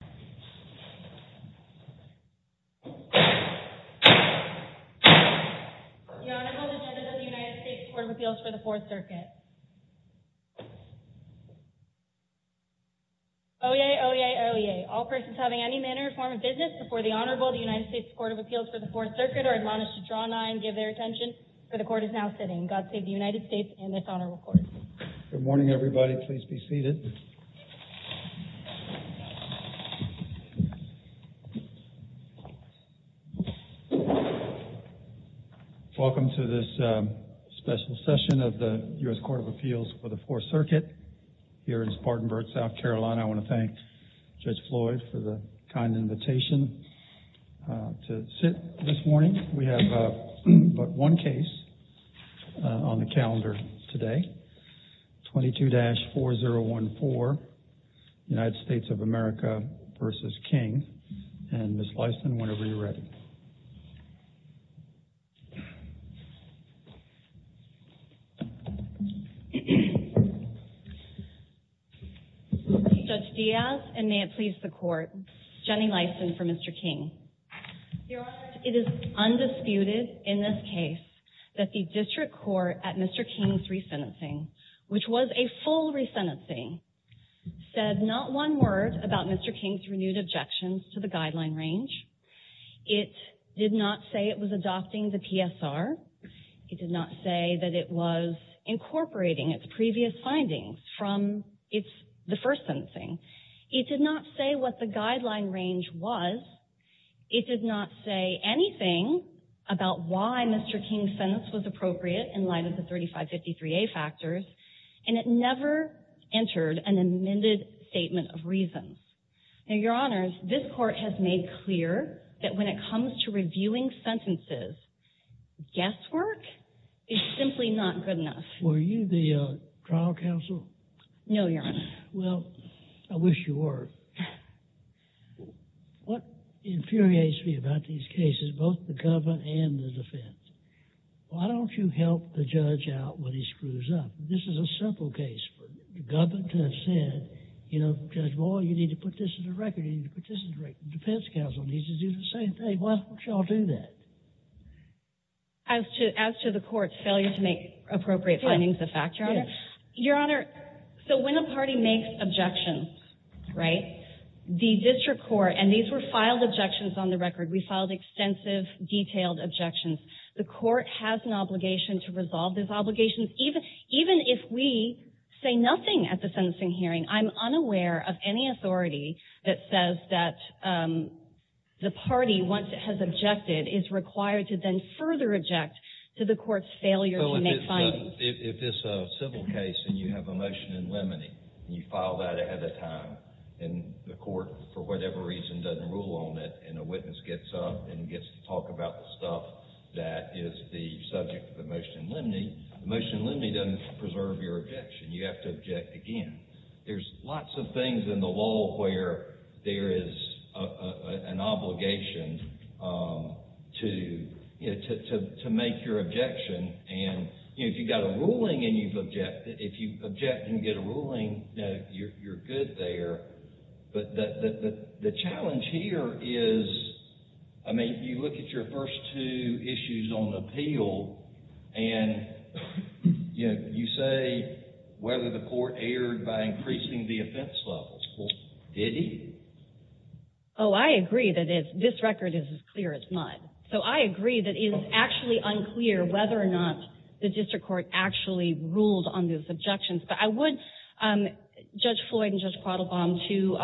The Honorable Lieutenant of the United States Court of Appeals for the Fourth Circuit, Oye Oye Oye, all persons having any manner or form of business before the Honorable of the United States Court of Appeals for the Fourth Circuit are admonished to draw an eye and give their attention, for the Court is now sitting. God save the United States and this Honorable Court. Good morning, everybody. Please be seated. Welcome to this special session of the U.S. Court of Appeals for the Fourth Circuit. Here in Spartanburg, South Carolina, I want to thank Judge Floyd for the kind invitation to sit this morning. We have but one case on the calendar today, 22-4014, United States of America v. King, and Ms. Leiston, whenever you're ready. Judge Diaz and may it please the Court, Jenny Leiston for Mr. King. Your Honor, it is undisputed in this case that the district court at Mr. King's resentencing, which was a full resentencing, said not one word about Mr. King's renewed objections to the guideline range. It did not say it was adopting the PSR. It did not say that it was incorporating its previous findings from the first sentencing. It did not say what the guideline range was. It did not say anything about why Mr. King's sentence was appropriate in light of the 3553A factors. And it never entered an amended statement of reasons. Now, Your Honors, this Court has made clear that when it comes to reviewing sentences, guesswork is simply not good enough. Were you the trial counsel? No, Your Honor. Well, I wish you were. What infuriates me about these cases, both the government and the defense, why don't you help the judge out when he screws up? This is a simple case. The government has said, you know, Judge Boyle, you need to put this on the record. You need to put this on the record. The defense counsel needs to do the same thing. Why don't you all do that? As to the Court's failure to make appropriate findings of fact, Your Honor. Your Honor, so when a party makes objections, right, the district court, and these were filed objections on the record. We filed extensive, detailed objections. The Court has an obligation to resolve those obligations. Even if we say nothing at the sentencing hearing, I'm unaware of any authority that says that the party, once it has objected, is required to then further object to the Court's failure to make findings. If it's a civil case and you have a motion in limine, and you file that ahead of time, and the Court, for whatever reason, doesn't rule on it, and a witness gets up and gets to talk about the stuff that is the subject of the motion in limine, the motion in limine doesn't preserve your objection. You have to object again. There's lots of things in the law where there is an obligation to make your objection. And if you've got a ruling and you've objected, if you object and get a ruling, you're good there. But the challenge here is, I mean, you look at your first two issues on appeal, and you say whether the Court erred by increasing the offense levels. Well, did it? Oh, I agree that this record is as clear as mud. So I agree that it is actually unclear whether or not the district court actually ruled on those objections. But I would judge Floyd and Judge Quattlebaum to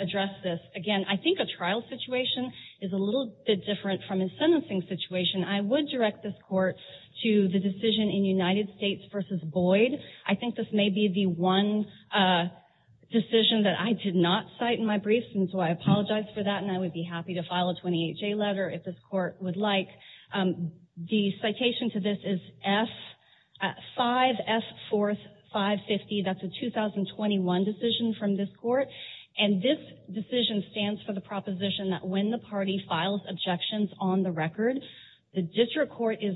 address this. Again, I think a trial situation is a little bit different from a sentencing situation. I would direct this Court to the decision in United States v. Boyd. I think this may be the one decision that I did not cite in my brief, and so I apologize for that, and I would be happy to file a 28-J letter if this Court would like. The citation to this is F-5, F-4, 550. That's a 2021 decision from this Court. And this decision stands for the proposition that when the party files objections on the record, the district court is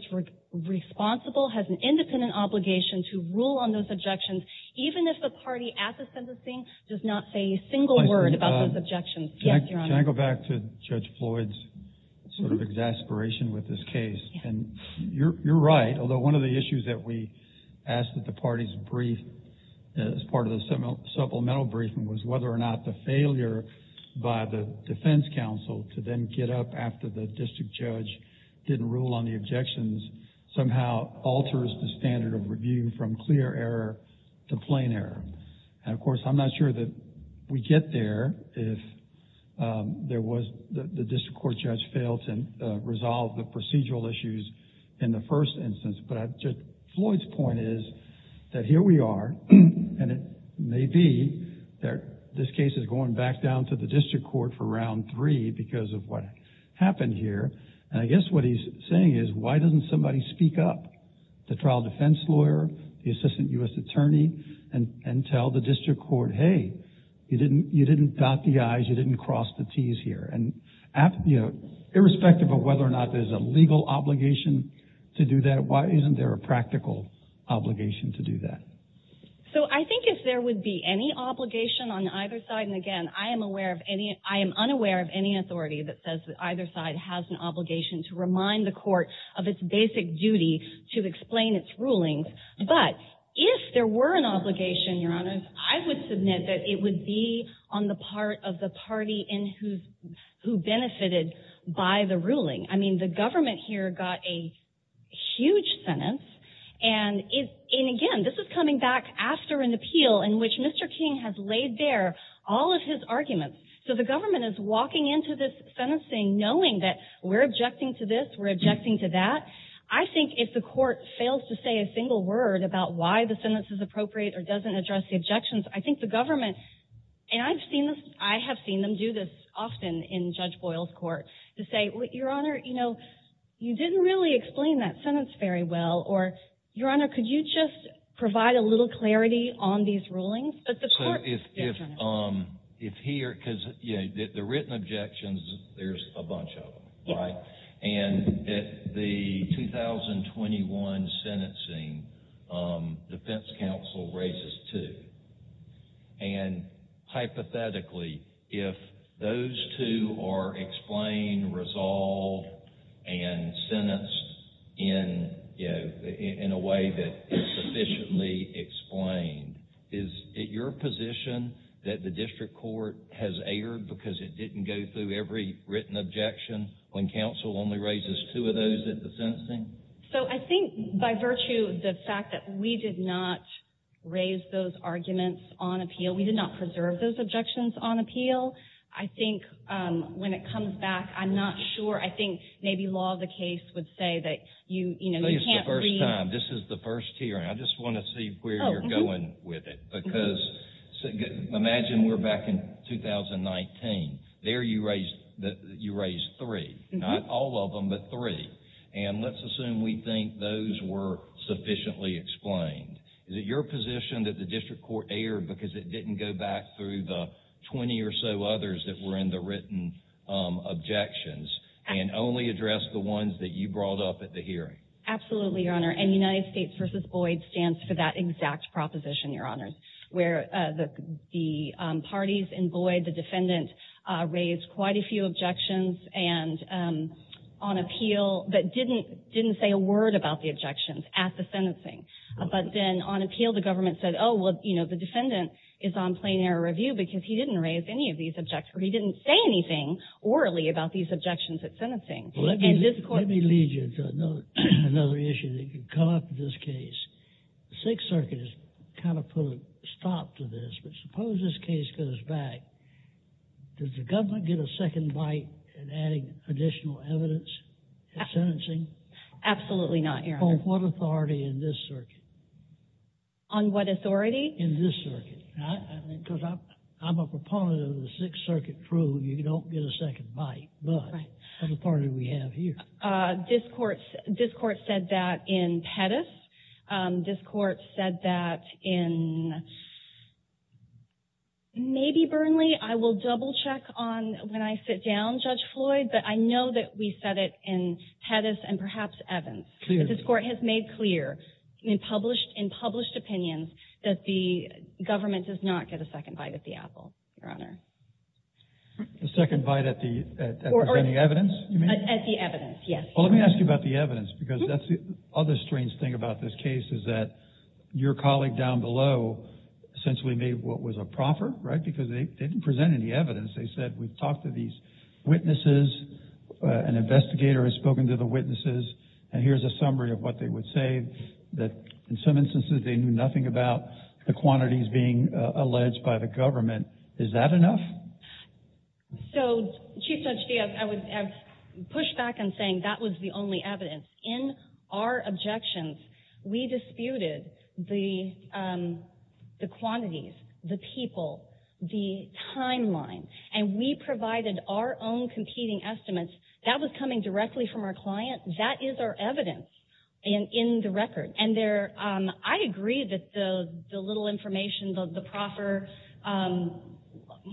responsible, has an independent obligation to rule on those objections, even if the party at the sentencing does not say a single word about those objections. Can I go back to Judge Floyd's sort of exasperation with this case? And you're right, although one of the issues that we asked that the parties brief as part of the supplemental briefing was whether or not the failure by the defense counsel to then get up after the district judge didn't rule on the objections somehow alters the standard of review from clear error to plain error. And of course, I'm not sure that we get there if the district court judge failed to resolve the procedural issues in the first instance, but Judge Floyd's point is that here we are, and it may be that this case is going back down to the district court for round three because of what happened here. And I guess what he's saying is, why doesn't somebody speak up? The trial defense lawyer, the assistant U.S. attorney, and tell the district court, hey, you didn't dot the I's, you didn't cross the T's here. And irrespective of whether or not there's a legal obligation to do that, why isn't there a practical obligation to do that? So I think if there would be any obligation on either side, and again, I am unaware of any authority that says that either side has an obligation to remind the court of its basic duty to explain its rulings, but if there were an obligation, Your Honor, I would submit that it would be on the part of the party who benefited by the ruling. I mean, the government here got a huge sentence, and again, this is coming back after an appeal in which Mr. King has laid bare all of his arguments. So the government is walking into this sentencing knowing that we're objecting to this, we're objecting to that. I think if the court fails to say a single word about why the sentence is appropriate or doesn't address the objections, I think the government, and I have seen them do this often in Judge Boyle's court, to say, Your Honor, you know, you didn't really explain that sentence very well, or Your Honor, could you just provide a little clarity on these rulings? So if here, because the written objections, there's a bunch of them, right? And the 2021 sentencing, defense counsel raises two. And hypothetically, if those two are explained, resolved, and sentenced in a way that is sufficiently explained, is it your position that the district court has erred because it didn't go through every written objection when counsel only raises two of those at the sentencing? So I think by virtue of the fact that we did not raise those arguments on appeal, we did not preserve those objections on appeal, I think when it comes back, I'm not sure. I think maybe law of the case would say that you can't read... This is the first time. This is the first hearing. I just want to see where you're going with it. Because imagine we're back in 2019. There you raised three. Not all of them, but three. And let's assume we think those were sufficiently explained. Is it your position that the district court erred because it didn't go back through the 20 or so others that were in the written objections? And only addressed the ones that you brought up at the hearing? Absolutely, Your Honor. And United States v. Boyd stands for that exact proposition, Your Honor, where the parties in Boyd, the defendant, raised quite a few objections on appeal, but didn't say a word about the objections at the sentencing. But then on appeal, the government said, oh, well, the defendant is on plain error review because he didn't raise any of these objections. Or he didn't say anything orally about these objections at sentencing. Let me lead you to another issue that could come up in this case. The Sixth Circuit has kind of put a stop to this, but suppose this case goes back. Does the government get a second bite at adding additional evidence at sentencing? Absolutely not, Your Honor. On what authority in this circuit? On what authority? In this circuit. Because I'm a proponent of the Sixth Circuit rule. You don't get a second bite. But that's the part that we have here. This court said that in Pettis. This court said that in maybe Burnley. I will double check on when I sit down, Judge Floyd, but I know that we said it in Pettis and perhaps Evans. But this court has made clear in published opinions that the government does not get a second bite at the apple, Your Honor. A second bite at the evidence? At the evidence, yes. Well, let me ask you about the evidence because that's the other strange thing about this case is that your colleague down below essentially made what was a proffer, right? Because they didn't present any evidence. They said we've talked to these witnesses. An investigator has spoken to the witnesses. And here's a summary of what they would say. In some instances, they knew nothing about the quantities being alleged by the government. Is that enough? So, Chief Judge, I would push back on saying that was the only evidence. In our objections, we disputed the quantities, the people, the timeline. And we provided our own competing estimates. That was coming directly from our client. That is our evidence in the record. And I agree that the little information, the proffer,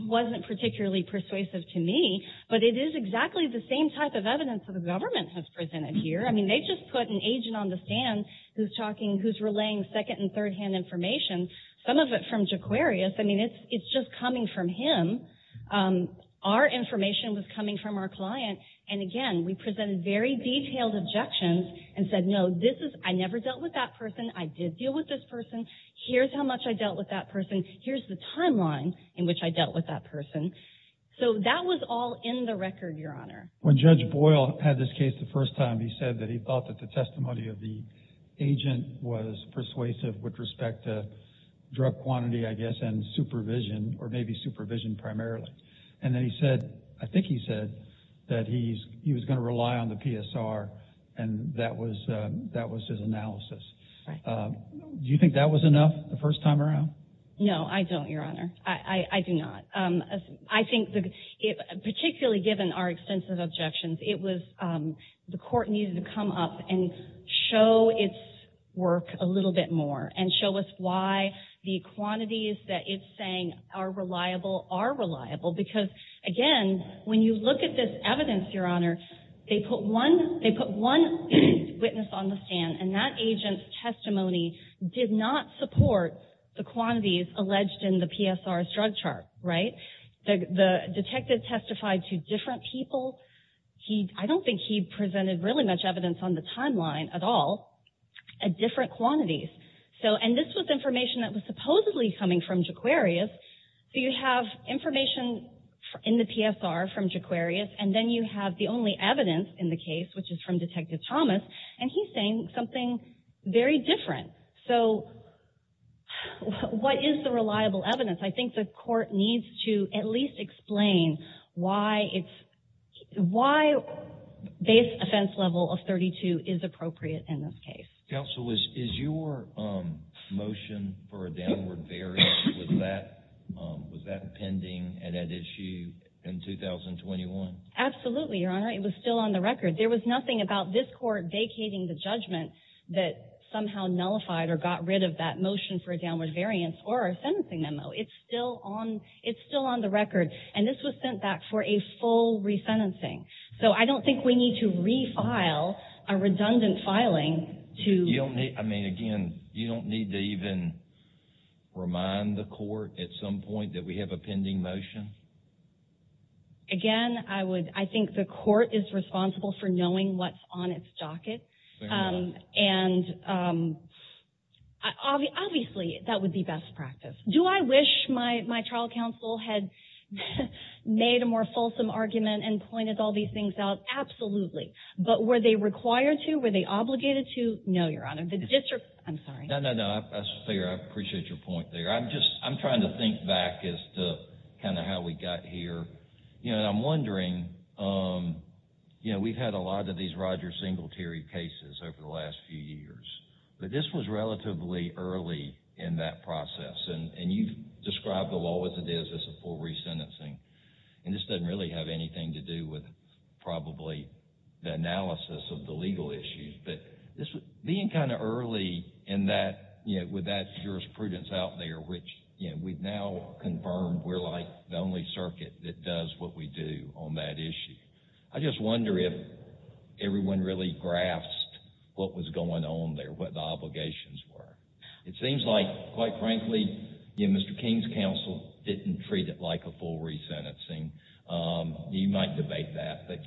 wasn't particularly persuasive to me. But it is exactly the same type of evidence that the government has presented here. I mean, they just put an agent on the stand who's relaying second- and third-hand information, some of it from Jaquarius. I mean, it's just coming from him. Our information was coming from our client. And, again, we presented very detailed objections and said, no, I never dealt with that person. I did deal with this person. Here's how much I dealt with that person. Here's the timeline in which I dealt with that person. So that was all in the record, Your Honor. When Judge Boyle had this case the first time, he said that he thought that the testimony of the agent was persuasive with respect to drug quantity, I guess, and supervision, or maybe supervision primarily. And then he said, I think he said, that he was going to rely on the PSR. And that was his analysis. Do you think that was enough the first time around? No, I don't, Your Honor. I do not. I think, particularly given our extensive objections, the court needed to come up and show its work a little bit more and show us why the quantities that it's saying are reliable are reliable. Because, again, when you look at this evidence, Your Honor, they put one witness on the stand, and that agent's testimony did not support the quantities alleged in the PSR's drug chart, right? The detective testified to different people. I don't think he presented really much evidence on the timeline at all at different quantities. And this was information that was supposedly coming from Jaquarius. So you have information in the PSR from Jaquarius, and then you have the only evidence in the case, which is from Detective Thomas, and he's saying something very different. So what is the reliable evidence? I think the court needs to at least explain why base offense level of 32 is appropriate in this case. Counsel, is your motion for a downward variance, was that pending and at issue in 2021? Absolutely, Your Honor. It was still on the record. There was nothing about this court vacating the judgment that somehow nullified or got rid of that motion for a downward variance or a sentencing memo. It's still on the record. And this was sent back for a full resentencing. So I don't think we need to refile a redundant filing. I mean, again, you don't need to even remind the court at some point that we have a pending motion? Again, I think the court is responsible for knowing what's on its docket. And obviously, that would be best practice. Do I wish my trial counsel had made a more fulsome argument and pointed all these things out? Absolutely. But were they required to? Were they obligated to? No, Your Honor. That's fair. I appreciate your point there. I'm trying to think back as to kind of how we got here. I'm wondering, you know, we've had a lot of these Roger Singletary cases over the last few years. But this was relatively early in that process. And you've described the law as it is, as a full resentencing. And this doesn't really have anything to do with probably the analysis of the legal issues. But being kind of early with that jurisprudence out there, which we've now confirmed we're like the only circuit that does what we do on that issue. I just wonder if everyone really grasped what was going on there, what the obligations were. It seems like, quite frankly, Mr. King's counsel didn't treat it like a full resentencing. You might debate that. But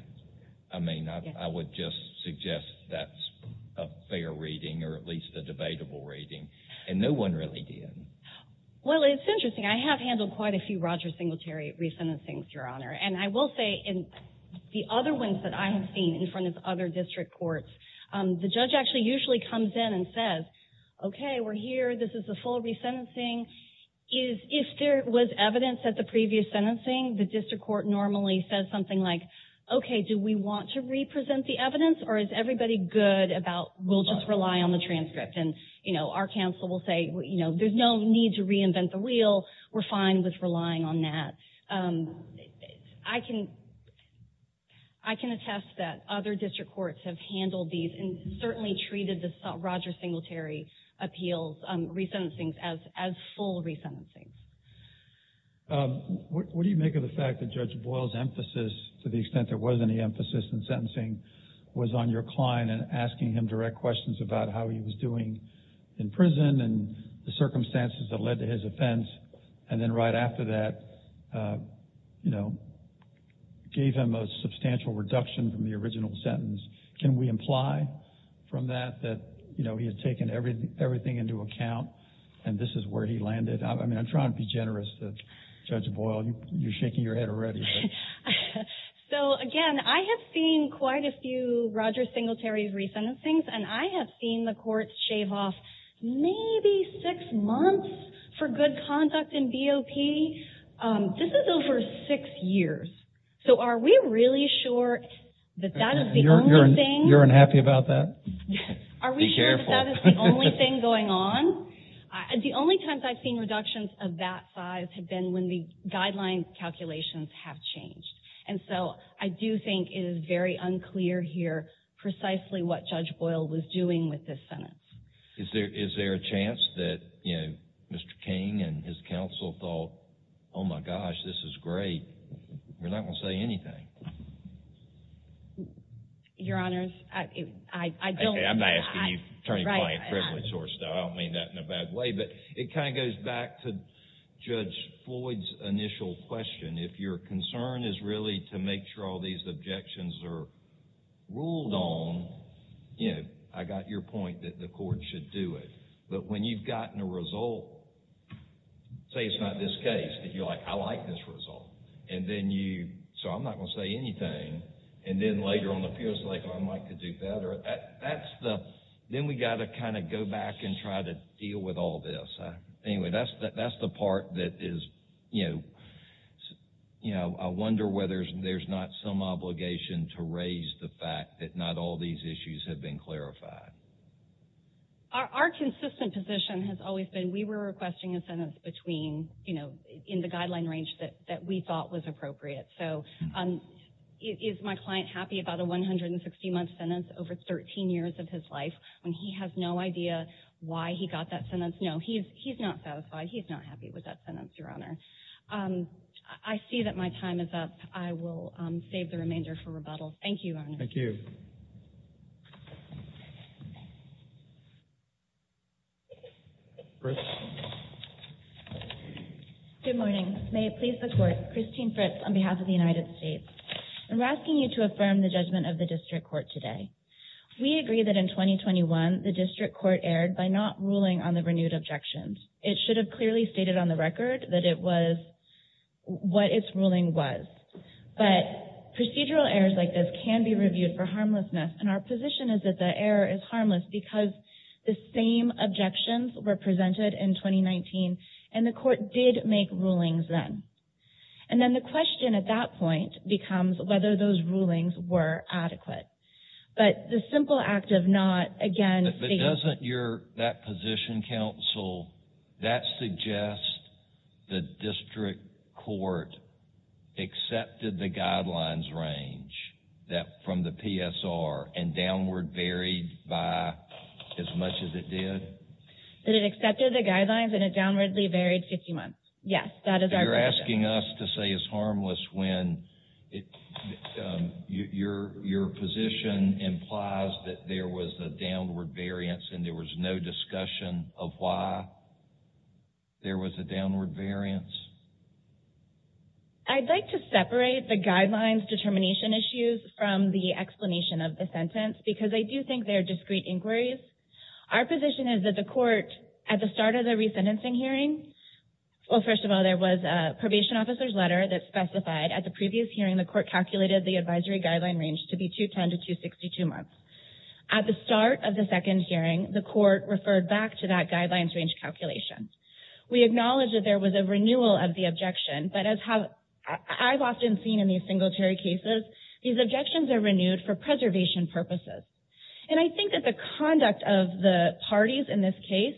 I mean, I would just suggest that's a fair reading or at least a debatable reading. And no one really did. Well, it's interesting. I have handled quite a few Roger Singletary resentencings, Your Honor. And I will say in the other ones that I have seen in front of other district courts, the judge actually usually comes in and says, OK, we're here. This is a full resentencing. If there was evidence at the previous sentencing, the district court normally says something like, OK, do we want to represent the evidence or is everybody good about we'll just rely on the transcript? And, you know, our counsel will say, you know, there's no need to reinvent the wheel. We're fine with relying on that. I can attest that other district courts have handled these and certainly treated the Roger Singletary appeals resentencings as full resentencing. What do you make of the fact that Judge Boyle's emphasis, to the extent there was any emphasis in sentencing, was on your client and asking him direct questions about how he was doing in prison and the circumstances that led to his offense. And then right after that, you know, gave him a substantial reduction from the original sentence. Can we imply from that that, you know, he had taken everything into account and this is where he landed? I mean, I'm trying to be generous to Judge Boyle. You're shaking your head already. So, again, I have seen quite a few Roger Singletary resentencings and I have seen the courts shave off maybe six months for good conduct in BOP. This is over six years. So are we really sure that that is the only thing? You're unhappy about that? Be careful. Are we sure that that is the only thing going on? The only times I've seen reductions of that size have been when the guideline calculations have changed. And so I do think it is very unclear here precisely what Judge Boyle was doing with this sentence. Is there a chance that, you know, Mr. King and his counsel thought, oh my gosh, this is great, we're not going to say anything? Your Honors, I don't... I don't mean that in a bad way, but it kind of goes back to Judge Floyd's initial question. If your concern is really to make sure all these objections are ruled on, you know, I got your point that the court should do it. But when you've gotten a result, say it's not this case, and you're like, I like this result, and then you, so I'm not going to say anything, and then later on it feels like I might do better, that's the, then we've got to kind of go back and try to deal with all this. Anyway, that's the part that is, you know, I wonder whether there's not some obligation to raise the fact that not all these issues have been clarified. Our consistent position has always been, we were requesting incentives between, you know, in the guideline range that we thought was appropriate. So is my client happy about a 160-month sentence over 13 years of his life when he has no idea why he got that sentence? No, he's not satisfied, he's not happy with that sentence, Your Honor. I see that my time is up. I will save the remainder for rebuttal. Thank you, Your Honor. Thank you. Good morning. May it please the Court, Christine Fritz on behalf of the United States. I'm asking you to affirm the judgment of the District Court today. We agree that in 2021, the District Court erred by not ruling on the renewed objections. It should have clearly stated on the record that it was, what its ruling was. But procedural errors like this can be reviewed for harmlessness, and our position is that the error is harmless because the same objections were presented in 2019, and the Court did make rulings then. And then the question at that point becomes whether those rulings were adequate. But the simple act of not, again, stating... But doesn't your, that position, counsel, that suggests the District Court accepted the guidelines range from the PSR and downward buried by as much as it did? That it accepted the guidelines and it downwardly buried 50 months. Yes, that is our position. You're asking us to say it's harmless when your position implies that there was a downward variance and there was no discussion of why there was a downward variance? I'd like to separate the guidelines determination issues from the explanation of the sentence because I do think they're discrete inquiries. Our position is that the Court, at the start of the resentencing hearing, well, first of all, there was a probation officer's letter that specified at the previous hearing the Court calculated the advisory guideline range to be 210 to 262 months. At the start of the second hearing, the Court referred back to that guidelines range calculation. We acknowledge that there was a renewal of the objection, but as I've often seen in these singletary cases, these objections are renewed for preservation purposes. And I think that the conduct of the parties in this case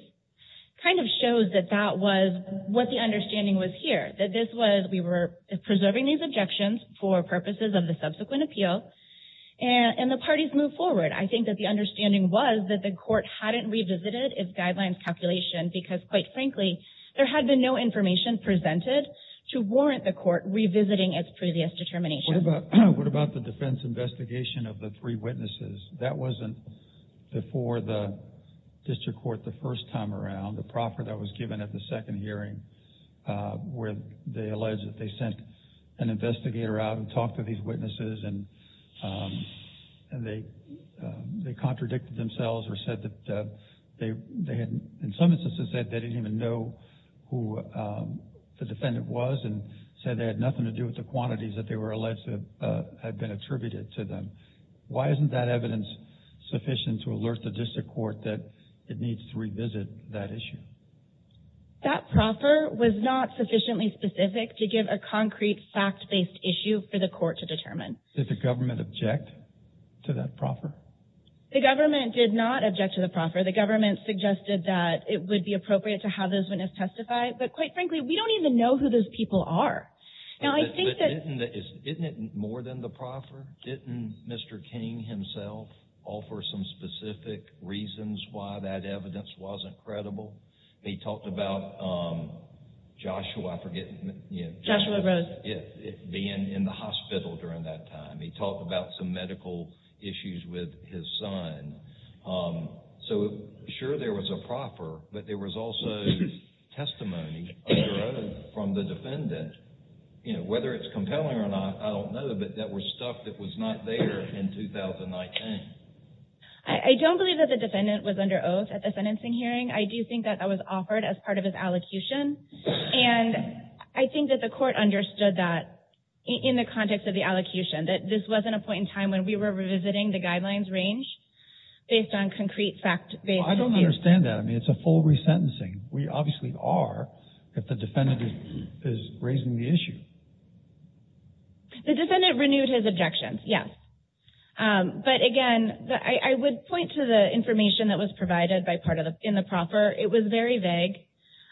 kind of shows that that was what the understanding was here. That this was, we were preserving these objections for purposes of the subsequent appeal and the parties moved forward. I think that the understanding was that the Court hadn't revisited its guidelines calculation because, quite frankly, there had been no information presented to warrant the Court revisiting its previous determination. What about the defense investigation of the three witnesses? That wasn't before the district court the first time around. The proffer that was given at the second hearing where they alleged that they sent an investigator out and talked to these witnesses and they contradicted themselves or said that they had, in some instances, said they didn't even know who the defendant was and said they had nothing to do with the quantities that they were alleged to have been attributed to them. Why isn't that evidence sufficient to alert the district court that it needs to revisit that issue? That proffer was not sufficiently specific to give a concrete fact-based issue for the Court to determine. Did the government object to that proffer? The government did not object to the proffer. The government suggested that it would be appropriate to have those witnesses testify. But, quite frankly, we don't even know who those people are. Isn't it more than the proffer? Didn't Mr. King himself offer some specific reasons why that evidence wasn't credible? He talked about Joshua being in the hospital during that time. He talked about some medical issues with his son. Sure, there was a proffer, but there was also testimony under oath from the defendant. Whether it's compelling or not, I don't know, but that was stuff that was not there in 2019. I don't believe that the defendant was under oath at the sentencing hearing. I do think that that was offered as part of his allocution. I think that the Court understood that in the context of the allocution, that this wasn't a point in time when we were revisiting the guidelines range based on concrete fact-based issues. I don't understand that. I mean, it's a full resentencing. We obviously are, but the defendant is raising the issue. The defendant renewed his objections, yes. But, again, I would point to the information that was provided in the proffer. It was very vague.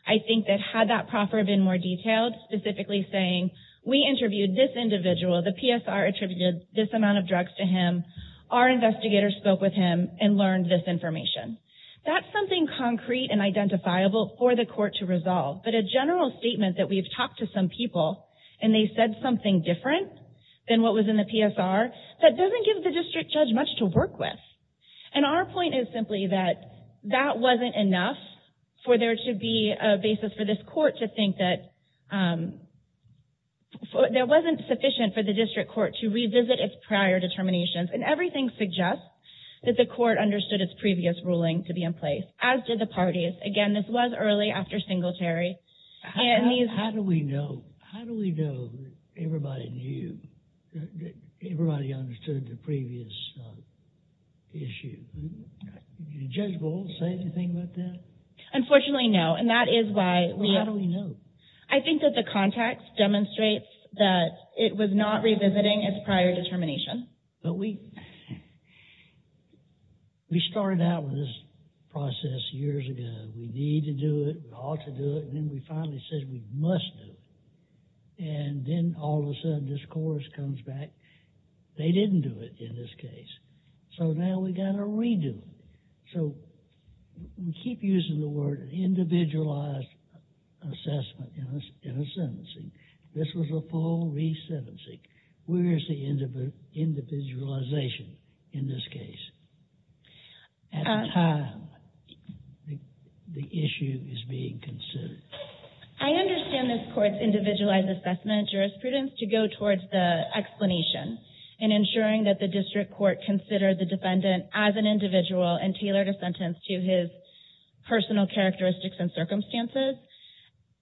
I think that had that proffer been more detailed, specifically saying, we interviewed this individual. The PSR attributed this amount of drugs to him. Our investigators spoke with him and learned this information. That's something concrete and identifiable for the Court to resolve. But a general statement that we've talked to some people, and they said something different than what was in the PSR, that doesn't give the district judge much to work with. And our point is simply that that wasn't enough for there to be a basis for this Court to think that there wasn't sufficient for the district court to revisit its prior determinations. And everything suggests that the Court understood its previous ruling to be in place, as did the parties. Again, this was early after Singletary. How do we know everybody understood the previous issue? Did Judge Bowles say anything about that? Unfortunately, no. Well, how do we know? I think that the context demonstrates that it was not revisiting its prior determination. But we started out with this process years ago. We need to do it. We ought to do it. And then we finally said we must do it. And then all of a sudden this Court comes back. They didn't do it in this case. So now we've got to redo it. So we keep using the word individualized assessment in a sentencing. This was a full re-sentencing. Where is the individualization in this case? At the time the issue is being considered. I understand this Court's individualized assessment jurisprudence to go towards the explanation and ensuring that the District Court considered the defendant as an individual and tailored a sentence to his personal characteristics and circumstances.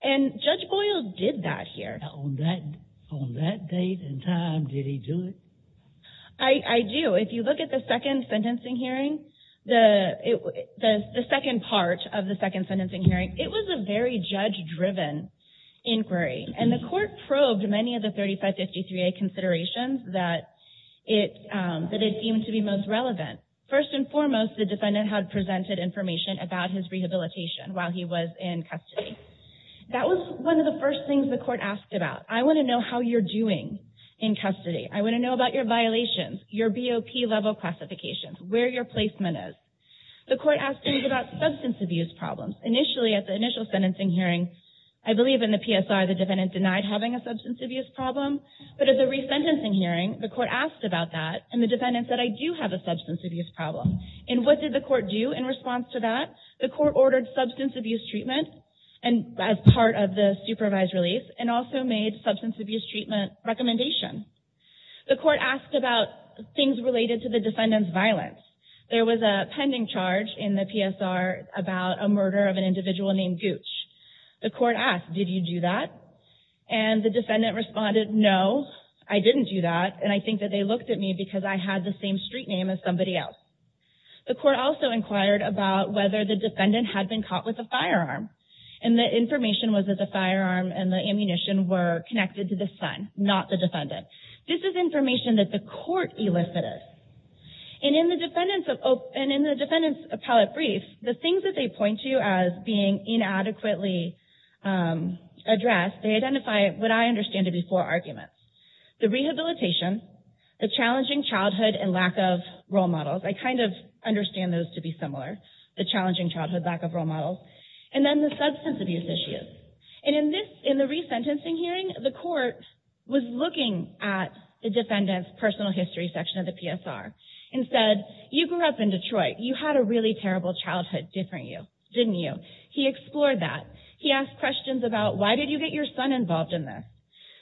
And Judge Bowles did that here. On that date and time, did he do it? I do. If you look at the second part of the second sentencing hearing, it was a very judge-driven inquiry. And the Court probed many of the 3553A considerations that it seemed to be most relevant. First and foremost, the defendant had presented information about his rehabilitation while he was in custody. That was one of the first things the Court asked about. I want to know how you're doing in custody. I want to know about your violations, your BOP level classifications, where your placement is. The Court asked him about substance abuse problems. Initially, at the initial sentencing hearing, I believe in the PSR, the defendant denied having a substance abuse problem. But at the resentencing hearing, the Court asked about that, and the defendant said, I do have a substance abuse problem. And what did the Court do in response to that? The Court ordered substance abuse treatment as part of the supervised release and also made substance abuse treatment recommendations. The Court asked about things related to the defendant's violence. There was a pending charge in the PSR about a murder of an individual named Gooch. The Court asked, did you do that? And the defendant responded, no, I didn't do that, and I think that they looked at me because I had the same street name as somebody else. The Court also inquired about whether the defendant had been caught with a firearm. And the information was that the firearm and the ammunition were connected to the son, not the defendant. This is information that the Court elicited. And in the defendant's appellate brief, the things that they point to as being inadequately addressed, they identify what I understand to be four arguments. The rehabilitation, the challenging childhood and lack of role models. I kind of understand those to be similar, the challenging childhood, lack of role models. And then the substance abuse issues. And in the resentencing hearing, the Court was looking at the defendant's personal history section of the PSR and said, you grew up in Detroit. You had a really terrible childhood, didn't you? He explored that. He asked questions about why did you get your son involved in this?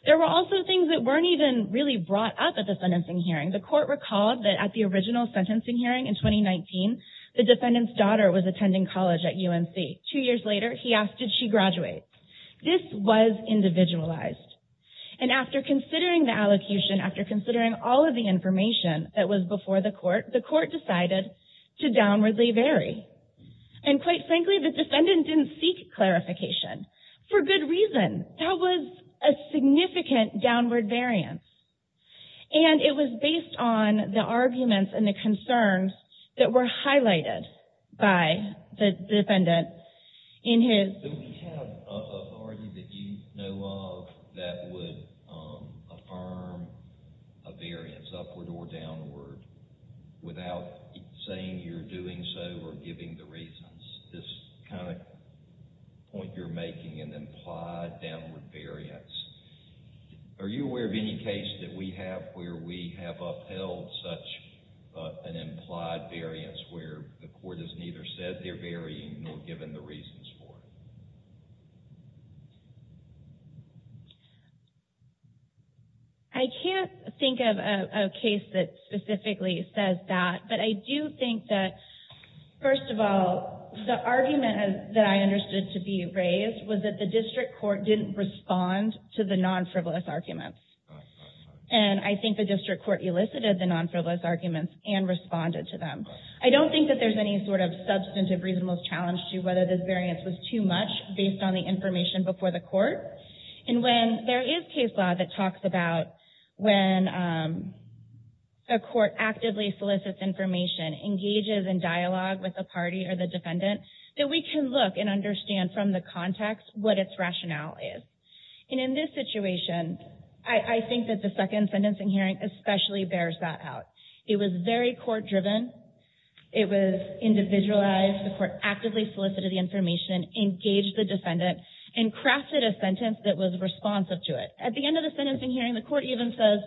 There were also things that weren't even really brought up at the sentencing hearing. The Court recalled that at the original sentencing hearing in 2019, the defendant's daughter was attending college at UNC. Two years later, he asked, did she graduate? This was individualized. And after considering the allocution, after considering all of the information that was before the Court, the Court decided to downwardly vary. And quite frankly, the defendant didn't seek clarification for good reason. That was a significant downward variance. And it was based on the arguments and the concerns that were highlighted by the defendant in his... Do we have an authority that you know of that would affirm a variance, upward or downward, without saying you're doing so or giving the reasons? This kind of point you're making, an implied downward variance. Are you aware of any case that we have where we have upheld such an implied variance where the Court has neither said they're varying nor given the reasons for it? I can't think of a case that specifically says that. But I do think that, first of all, the argument that I understood to be raised was that the District Court didn't respond to the non-frivolous arguments. And I think the District Court elicited the non-frivolous arguments and responded to them. I don't think that there's any sort of substantive reasonable challenge to whether this variance was too much based on the information before the Court. And when there is case law that talks about when a Court actively solicits information, engages in dialogue with the party or the defendant, that we can look and understand from the context what its rationale is. And in this situation, I think that the second sentencing hearing especially bears that out. It was very court-driven. It was individualized. The Court actively solicited the information, engaged the defendant, and crafted a sentence that was responsive to it. At the end of the sentencing hearing, the Court even says,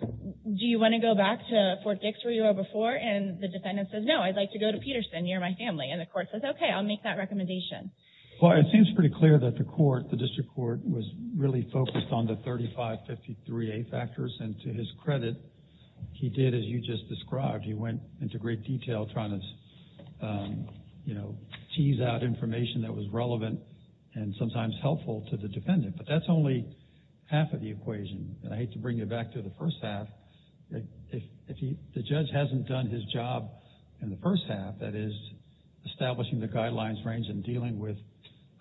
do you want to go back to Fort Dix where you were before? And the defendant says, no, I'd like to go to Peterson. You're my family. And the Court says, okay, I'll make that recommendation. Well, it seems pretty clear that the District Court was really focused on the 3553A factors. And to his credit, he did, as you just described, he went into great detail trying to tease out information that was relevant and sometimes helpful to the defendant. But that's only half of the equation. And I hate to bring you back to the first half. If the judge hasn't done his job in the first half, that is establishing the guidelines range and dealing with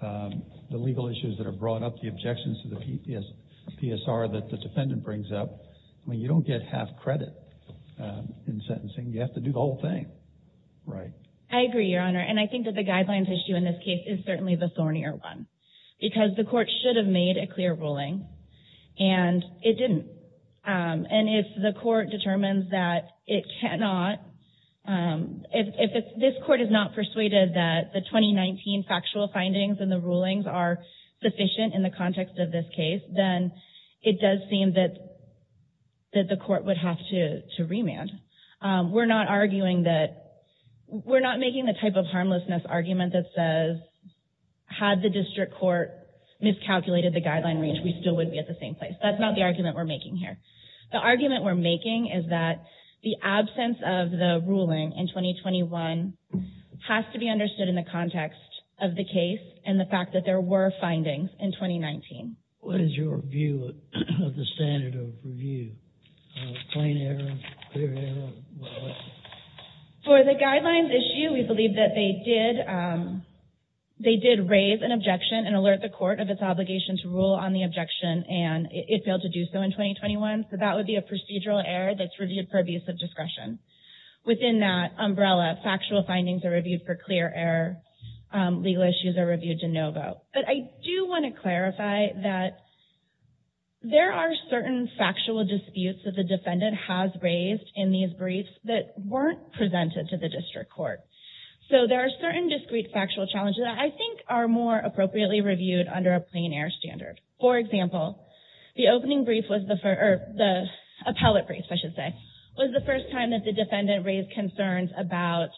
the legal issues that are brought up, the objections to the PSR that the defendant brings up, you don't get half credit in sentencing. You have to do the whole thing. I agree, Your Honor. And I think that the guidelines issue in this case is certainly the thornier one. Because the Court should have made a clear ruling, and it didn't. And if the Court determines that it cannot, if this Court is not persuaded that the 2019 factual findings and the rulings are sufficient in the context of this case, then it does seem that the Court would have to remand. We're not arguing that, we're not making the type of harmlessness argument that says, had the District Court miscalculated the guideline range, we still would be at the same place. That's not the argument we're making here. The argument we're making is that the absence of the ruling in 2021 has to be understood in the context of the case and the fact that there were findings in 2019. What is your view of the standard of review? Plain error? Clear error? For the guidelines issue, we believe that they did raise an objection and alert the Court of its obligation to rule on the objection, and it failed to do so in 2021. So that would be a procedural error that's reviewed for abuse of discretion. Within that umbrella, factual findings are reviewed for clear error, legal issues are reviewed de novo. But I do want to clarify that there are certain factual disputes that the defendant has raised in these briefs that weren't presented to the District Court. So there are certain discrete factual challenges that I think are more appropriately reviewed under a plain error standard. For example, the opening brief was the first, or the appellate brief, I should say, was the first time that the defendant raised concerns about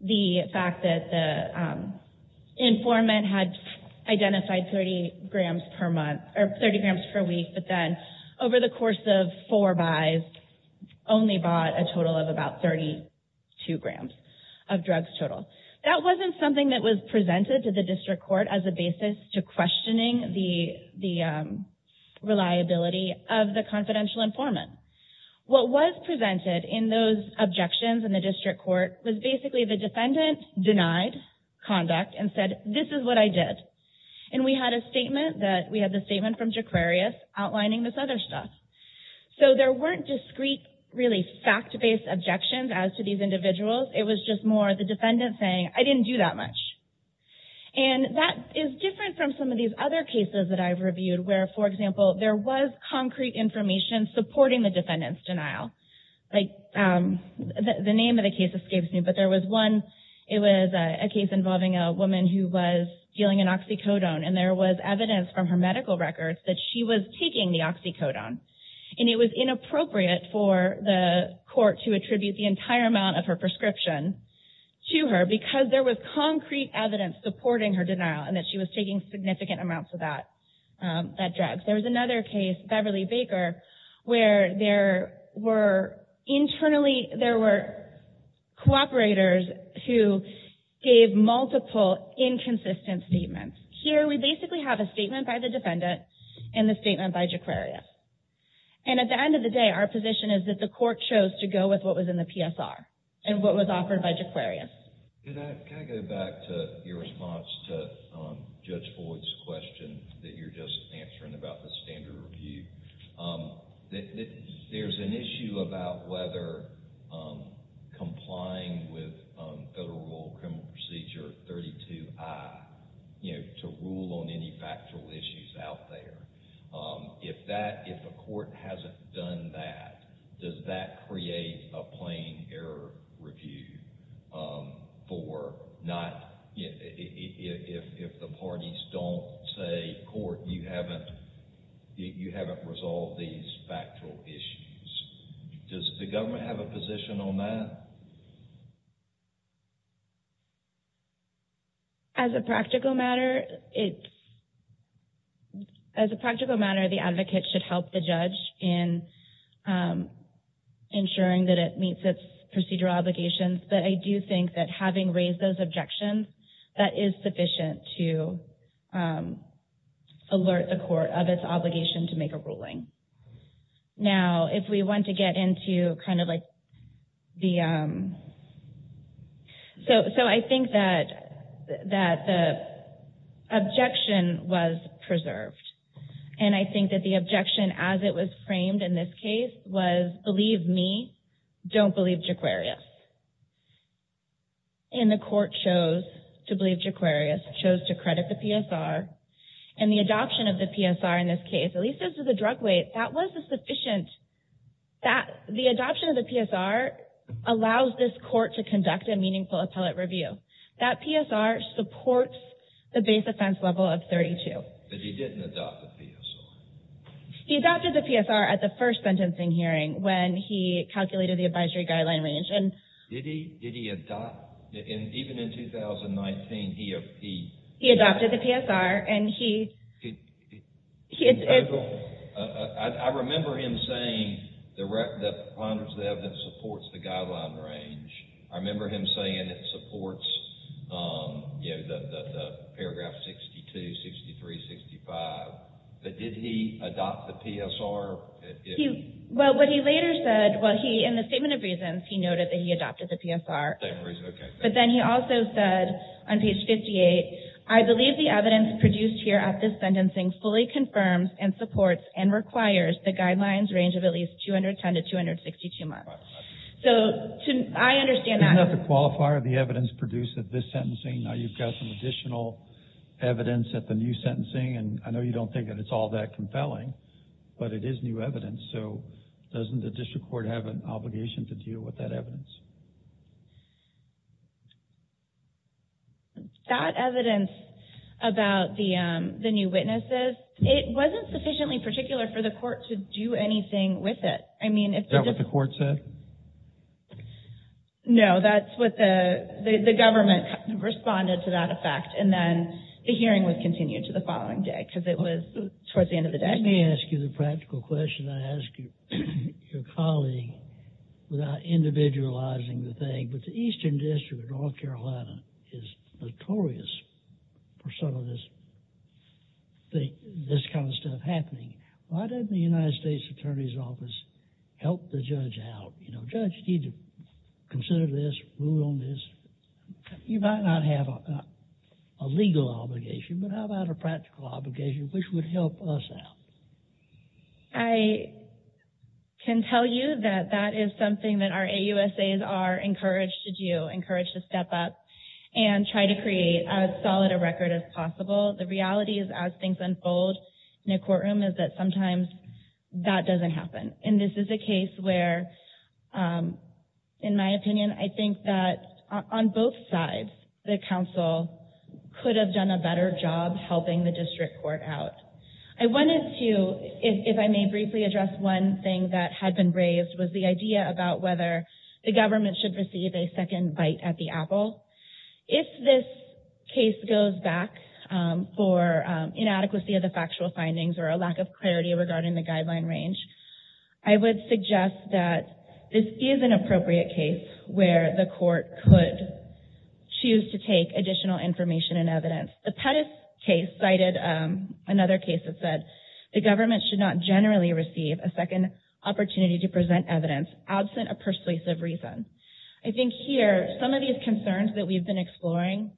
the fact that the informant had identified 30 grams per month, or 30 grams per week, but then over the course of four buys only bought a total of about 32 grams of drugs total. That wasn't something that was presented to the District Court as a basis to questioning the reliability of the confidential informant. What was presented in those objections in the District Court was basically the defendant denied conduct and said, this is what I did. And we had a statement that, we had the statement from Jaquarius outlining this other stuff. So there weren't discrete, really fact-based objections as to these individuals. It was just more the defendant saying, I didn't do that much. And that is different from some of these other cases that I've reviewed where, for example, there was concrete information supporting the defendant's denial. The name of the case escapes me, but there was one, it was a case involving a woman who was dealing an oxycodone and there was evidence from her medical records that she was taking the oxycodone. And it was inappropriate for the court to attribute the entire amount of her prescription to her because there was concrete evidence supporting her denial and that she was taking significant amounts of that drug. There was another case, Beverly Baker, where there were internally, there were cooperators who gave multiple inconsistent statements. Here, we basically have a statement by the defendant and the statement by Jaquarius. And at the end of the day, our position is that the court chose to go with what was in the PSR and what was offered by Jaquarius. Can I go back to your response to Judge Boyd's question that you're just answering about the standard review? There's an issue about whether complying with Federal Law Criminal Procedure 32I, you know, to rule on any factual issues out there. If a court hasn't done that, does that create a plain error review for not, if the parties don't say, court, you haven't resolved these factual issues? Does the government have a position on that? As a practical matter, it's, as a practical matter, the advocate should help the judge in ensuring that it meets its procedural obligations. But I do think that having raised those objections, that is sufficient to alert the court of its obligation to make a ruling. Now, if we want to get into kind of like the, so I think that the objection was preserved. And I think that the objection, as it was framed in this case, was believe me, don't believe Jaquarius. And the court chose to believe Jaquarius, chose to credit the PSR. And the adoption of the PSR in this case, at least as to the drug weight, that was a sufficient, the adoption of the PSR allows this court to conduct a meaningful appellate review. That PSR supports the base offense level of 32. But he didn't adopt the PSR. He adopted the PSR at the first sentencing hearing when he calculated the advisory guideline range. Did he adopt? Even in 2019, he... He adopted the PSR and he... I remember him saying that the plaintiff's evidence supports the guideline range. I remember him saying it supports the paragraph 62, 63, 65. But did he adopt the PSR? Well, what he later said, in the statement of reasons, he noted that he adopted the PSR. But then he also said on page 58, I believe the evidence produced here at this sentencing fully confirms and supports and requires the guidelines range of at least 210 to 262 months. So I understand that... Isn't that the qualifier of the evidence produced at this sentencing? Now you've got some additional evidence at the new sentencing. And I know you don't think that it's all that compelling, but it is new evidence. So doesn't the district court have an obligation to deal with that evidence? That evidence about the new witnesses, it wasn't sufficiently particular for the court to do anything with it. Is that what the court said? No, that's what the... The government responded to that effect. And then the hearing would continue to the following day because it was towards the end of the day. Let me ask you the practical question. I ask you, your colleague, without individualizing the thing, but the Eastern District of North Carolina is notorious for some of this, this kind of stuff happening. Why doesn't the United States Attorney's Office help the judge out? You know, judge, you need to consider this, rule on this. You might not have a legal obligation, but how about a practical obligation which would help us out? I can tell you that that is something that our AUSAs are encouraged to do, encouraged to step up and try to create as solid a record as possible. The reality is as things unfold in a courtroom is that sometimes that doesn't happen. And this is a case where, in my opinion, I think that on both sides, the counsel could have done a better job helping the district court out. I wanted to, if I may briefly address one thing that had been raised was the idea about whether the government should receive a second bite at the apple. If this case goes back for inadequacy of the factual findings or a lack of clarity regarding the guideline range, I would suggest that this is an appropriate case where the court could choose to take additional information and evidence. The Pettis case cited another case that said the government should not generally receive a second opportunity to present evidence absent a persuasive reason. I think here, some of these concerns that we've been exploring,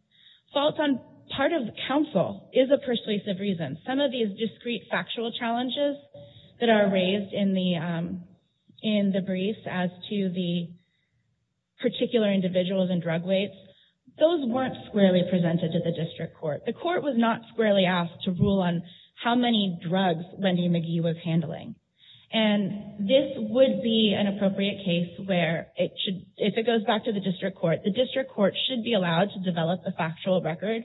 faults on part of counsel is a persuasive reason. Some of these discrete factual challenges that are raised in the brief as to the particular individuals and drug weights, those weren't squarely presented to the district court. The court was not squarely asked to rule on how many drugs Wendy McGee was handling. And this would be an appropriate case where if it goes back to the district court, the district court should be allowed to develop a factual record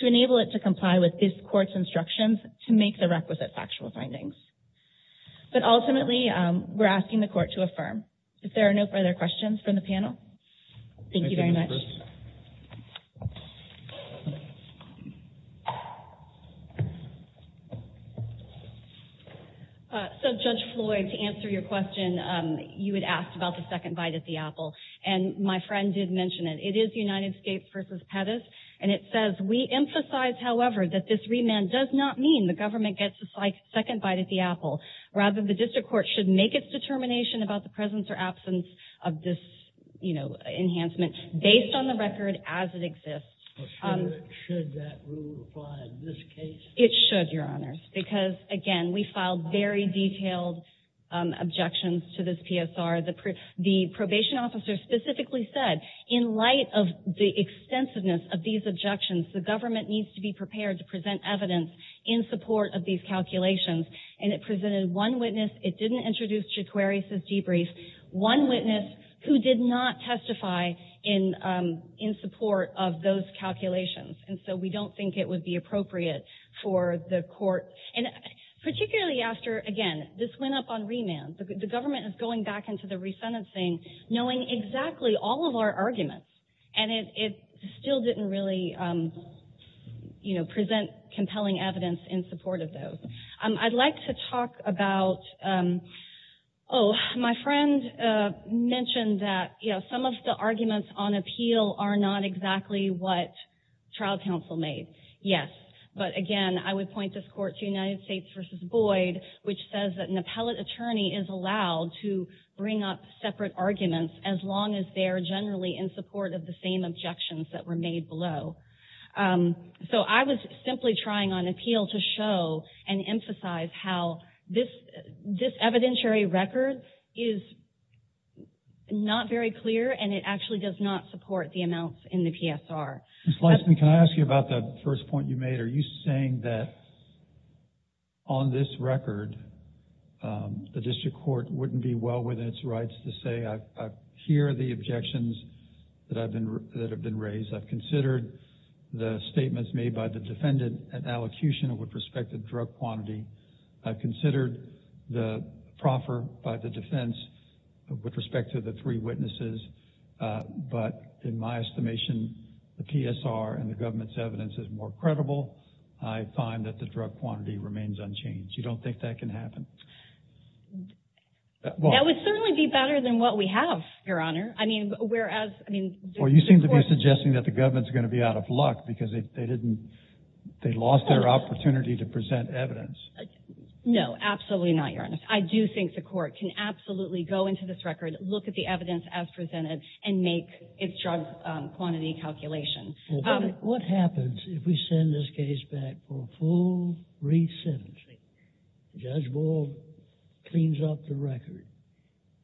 to enable it to comply with this court's instructions to make the requisite factual findings. But ultimately, we're asking the court to affirm. If there are no further questions from the panel, thank you very much. So Judge Floyd, to answer your question, you had asked about the second bite at the apple, and my friend did mention it. It is United States v. Pettis, and it says, we emphasize, however, that this remand does not mean the government gets a second bite at the apple. Rather, the district court should make its determination about the presence or absence of this enhancement based on the record as it exists. Should that rule apply in this case? It should, Your Honors, because again, we filed very detailed objections to this PSR. The probation officer specifically said, in light of the extensiveness of these objections, the government needs to be prepared to present evidence in support of these calculations, and it presented one witness. It didn't introduce Jaquarius's debrief. One witness who did not testify in support of those calculations, and so we don't think it would be appropriate for the court, and particularly after, again, this went up on remand. The government is going back into the resentencing knowing exactly all of our arguments, and it still didn't really present compelling evidence in support of those. I'd like to talk about, oh, my friend mentioned that some of the arguments on appeal are not exactly what trial counsel made. Yes, but again, I would point this court to United States v. Boyd, which says that an appellate attorney is allowed to bring up separate arguments as long as they're generally in support of the same objections that were made below. So I was simply trying on appeal to show and emphasize how this evidentiary record is not very clear, and it actually does not support the amounts in the PSR. Ms. Leisman, can I ask you about the first point you made? Are you saying that on this record, the district court wouldn't be well within its rights to say, I hear the objections that have been raised. I've considered the statements made by the defendant and allocution with respect to drug quantity. I've considered the proffer by the defense with respect to the three witnesses, but in my estimation, the PSR and the government's evidence is more credible. I find that the drug quantity remains unchanged. You don't think that can happen? That would certainly be better than what we have, Your Honor. I mean, whereas, I mean... Well, you seem to be suggesting that the government's going to be out of luck because they didn't, they lost their opportunity to present evidence. No, absolutely not, Your Honor. I do think the court can absolutely go into this record, look at the evidence as presented, and make its drug quantity calculations. What happens if we send this case back for full re-sentencing? Judge Boyle cleans up the record,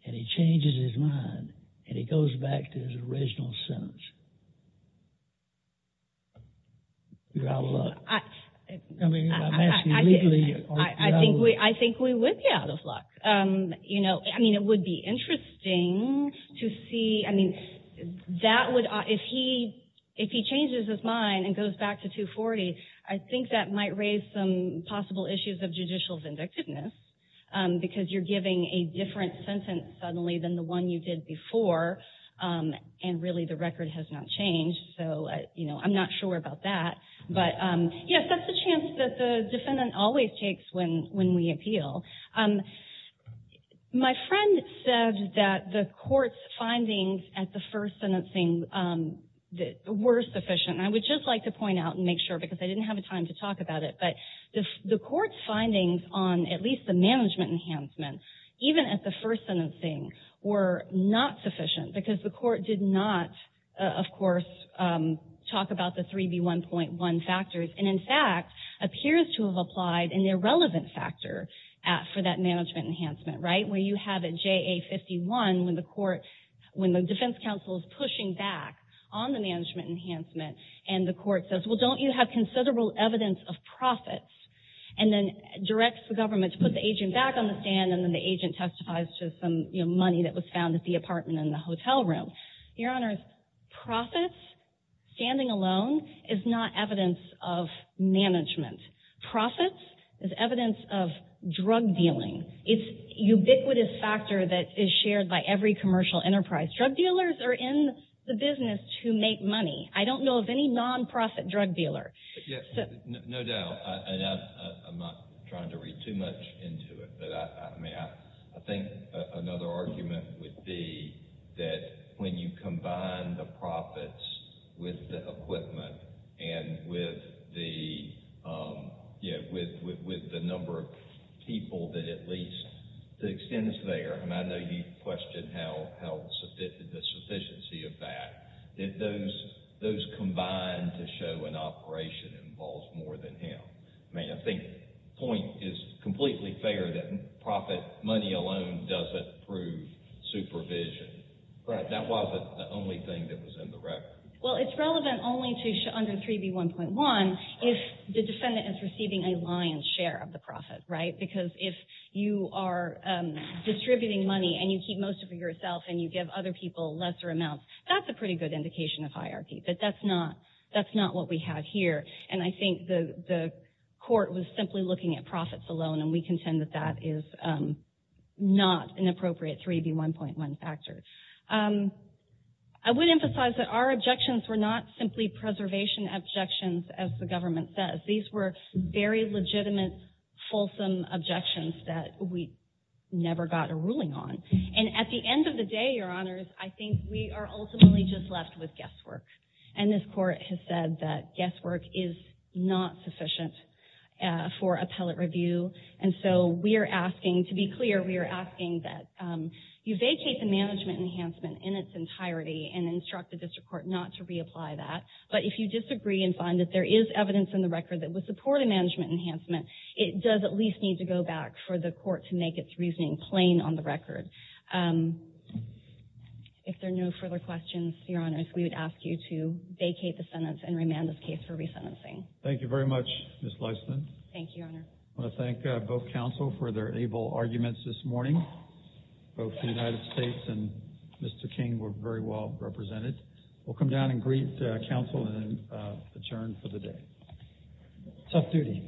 and he changes his mind, and he goes back to his original sentence. You're out of luck. I mean, I'm asking legally... I think we would be out of luck. You know, I mean, it would be interesting to see, I mean, that would, if he, if he changes his mind and goes back to 240, I think that might raise some possible issues of judicial vindictiveness, because you're giving a different sentence suddenly than the one you did before, and really the record has not changed. So, you know, I'm not sure about that. But yes, that's a chance that the defendant always takes when we appeal. My friend said that the court's findings at the first sentencing were sufficient. And I would just like to point out and make sure, because I didn't have the time to talk about it, but the court's findings on at least the management enhancement, even at the first sentencing, were not sufficient, because the court did not, of course, talk about the 3B1.1 factors, and in fact, appears to have applied an irrelevant factor for that management enhancement, right? Where you have a JA51, when the defense counsel is pushing back on the management enhancement, and the court says, well, don't you have considerable evidence of profits, and then directs the government to put the agent back on the stand, and then the agent testifies to some money that was found at the apartment in the hotel room. Your Honor, profits, standing alone, is not evidence of management. Profits is evidence of drug dealing. It's a ubiquitous factor that is shared by every commercial enterprise. Drug dealers are in the business to make money. I don't know of any non-profit drug dealer. No doubt, and I'm not trying to read too much into it, but I think another argument would be that when you combine the profits with the equipment, and with the number of people that at least, the extent is there, and I know you questioned the sufficiency of that, that those combined to show an operation involves more than him. I think the point is completely fair that profit money alone doesn't prove supervision. That wasn't the only thing that was in the record. Well, it's relevant only under 3B1.1 if the defendant is receiving a lion's share of the profit, right? Because if you are distributing money and you keep most of it yourself, and you give other people lesser amounts, that's a pretty good indication of hierarchy, but that's not what we have here, and I think the court was simply looking at profits alone, and we contend that that is not an appropriate 3B1.1 factor. I would emphasize that our objections were not simply preservation objections, as the government says. These were very legitimate, fulsome objections that we never got a ruling on, and at the end of the day, Your Honors, I think we are ultimately just left with guesswork, and this court has said that guesswork is not sufficient for appellate review, and so we are asking, to be clear, we are asking that you vacate the management enhancement in its entirety and instruct the district court not to reapply that, but if you disagree and find that there is evidence in the record that would support a management enhancement, it does at least need to go back for the court to make its reasoning plain on the record. If there are no further questions, Your Honors, we would ask you to vacate the sentence and remand this case for resentencing. Thank you very much, Ms. Leisman. Thank you, Your Honor. I want to thank both counsel for their able arguments this morning. Both the United States and Mr. King were very well represented. We will come down and greet counsel and adjourn for the day. Tough duty, I know.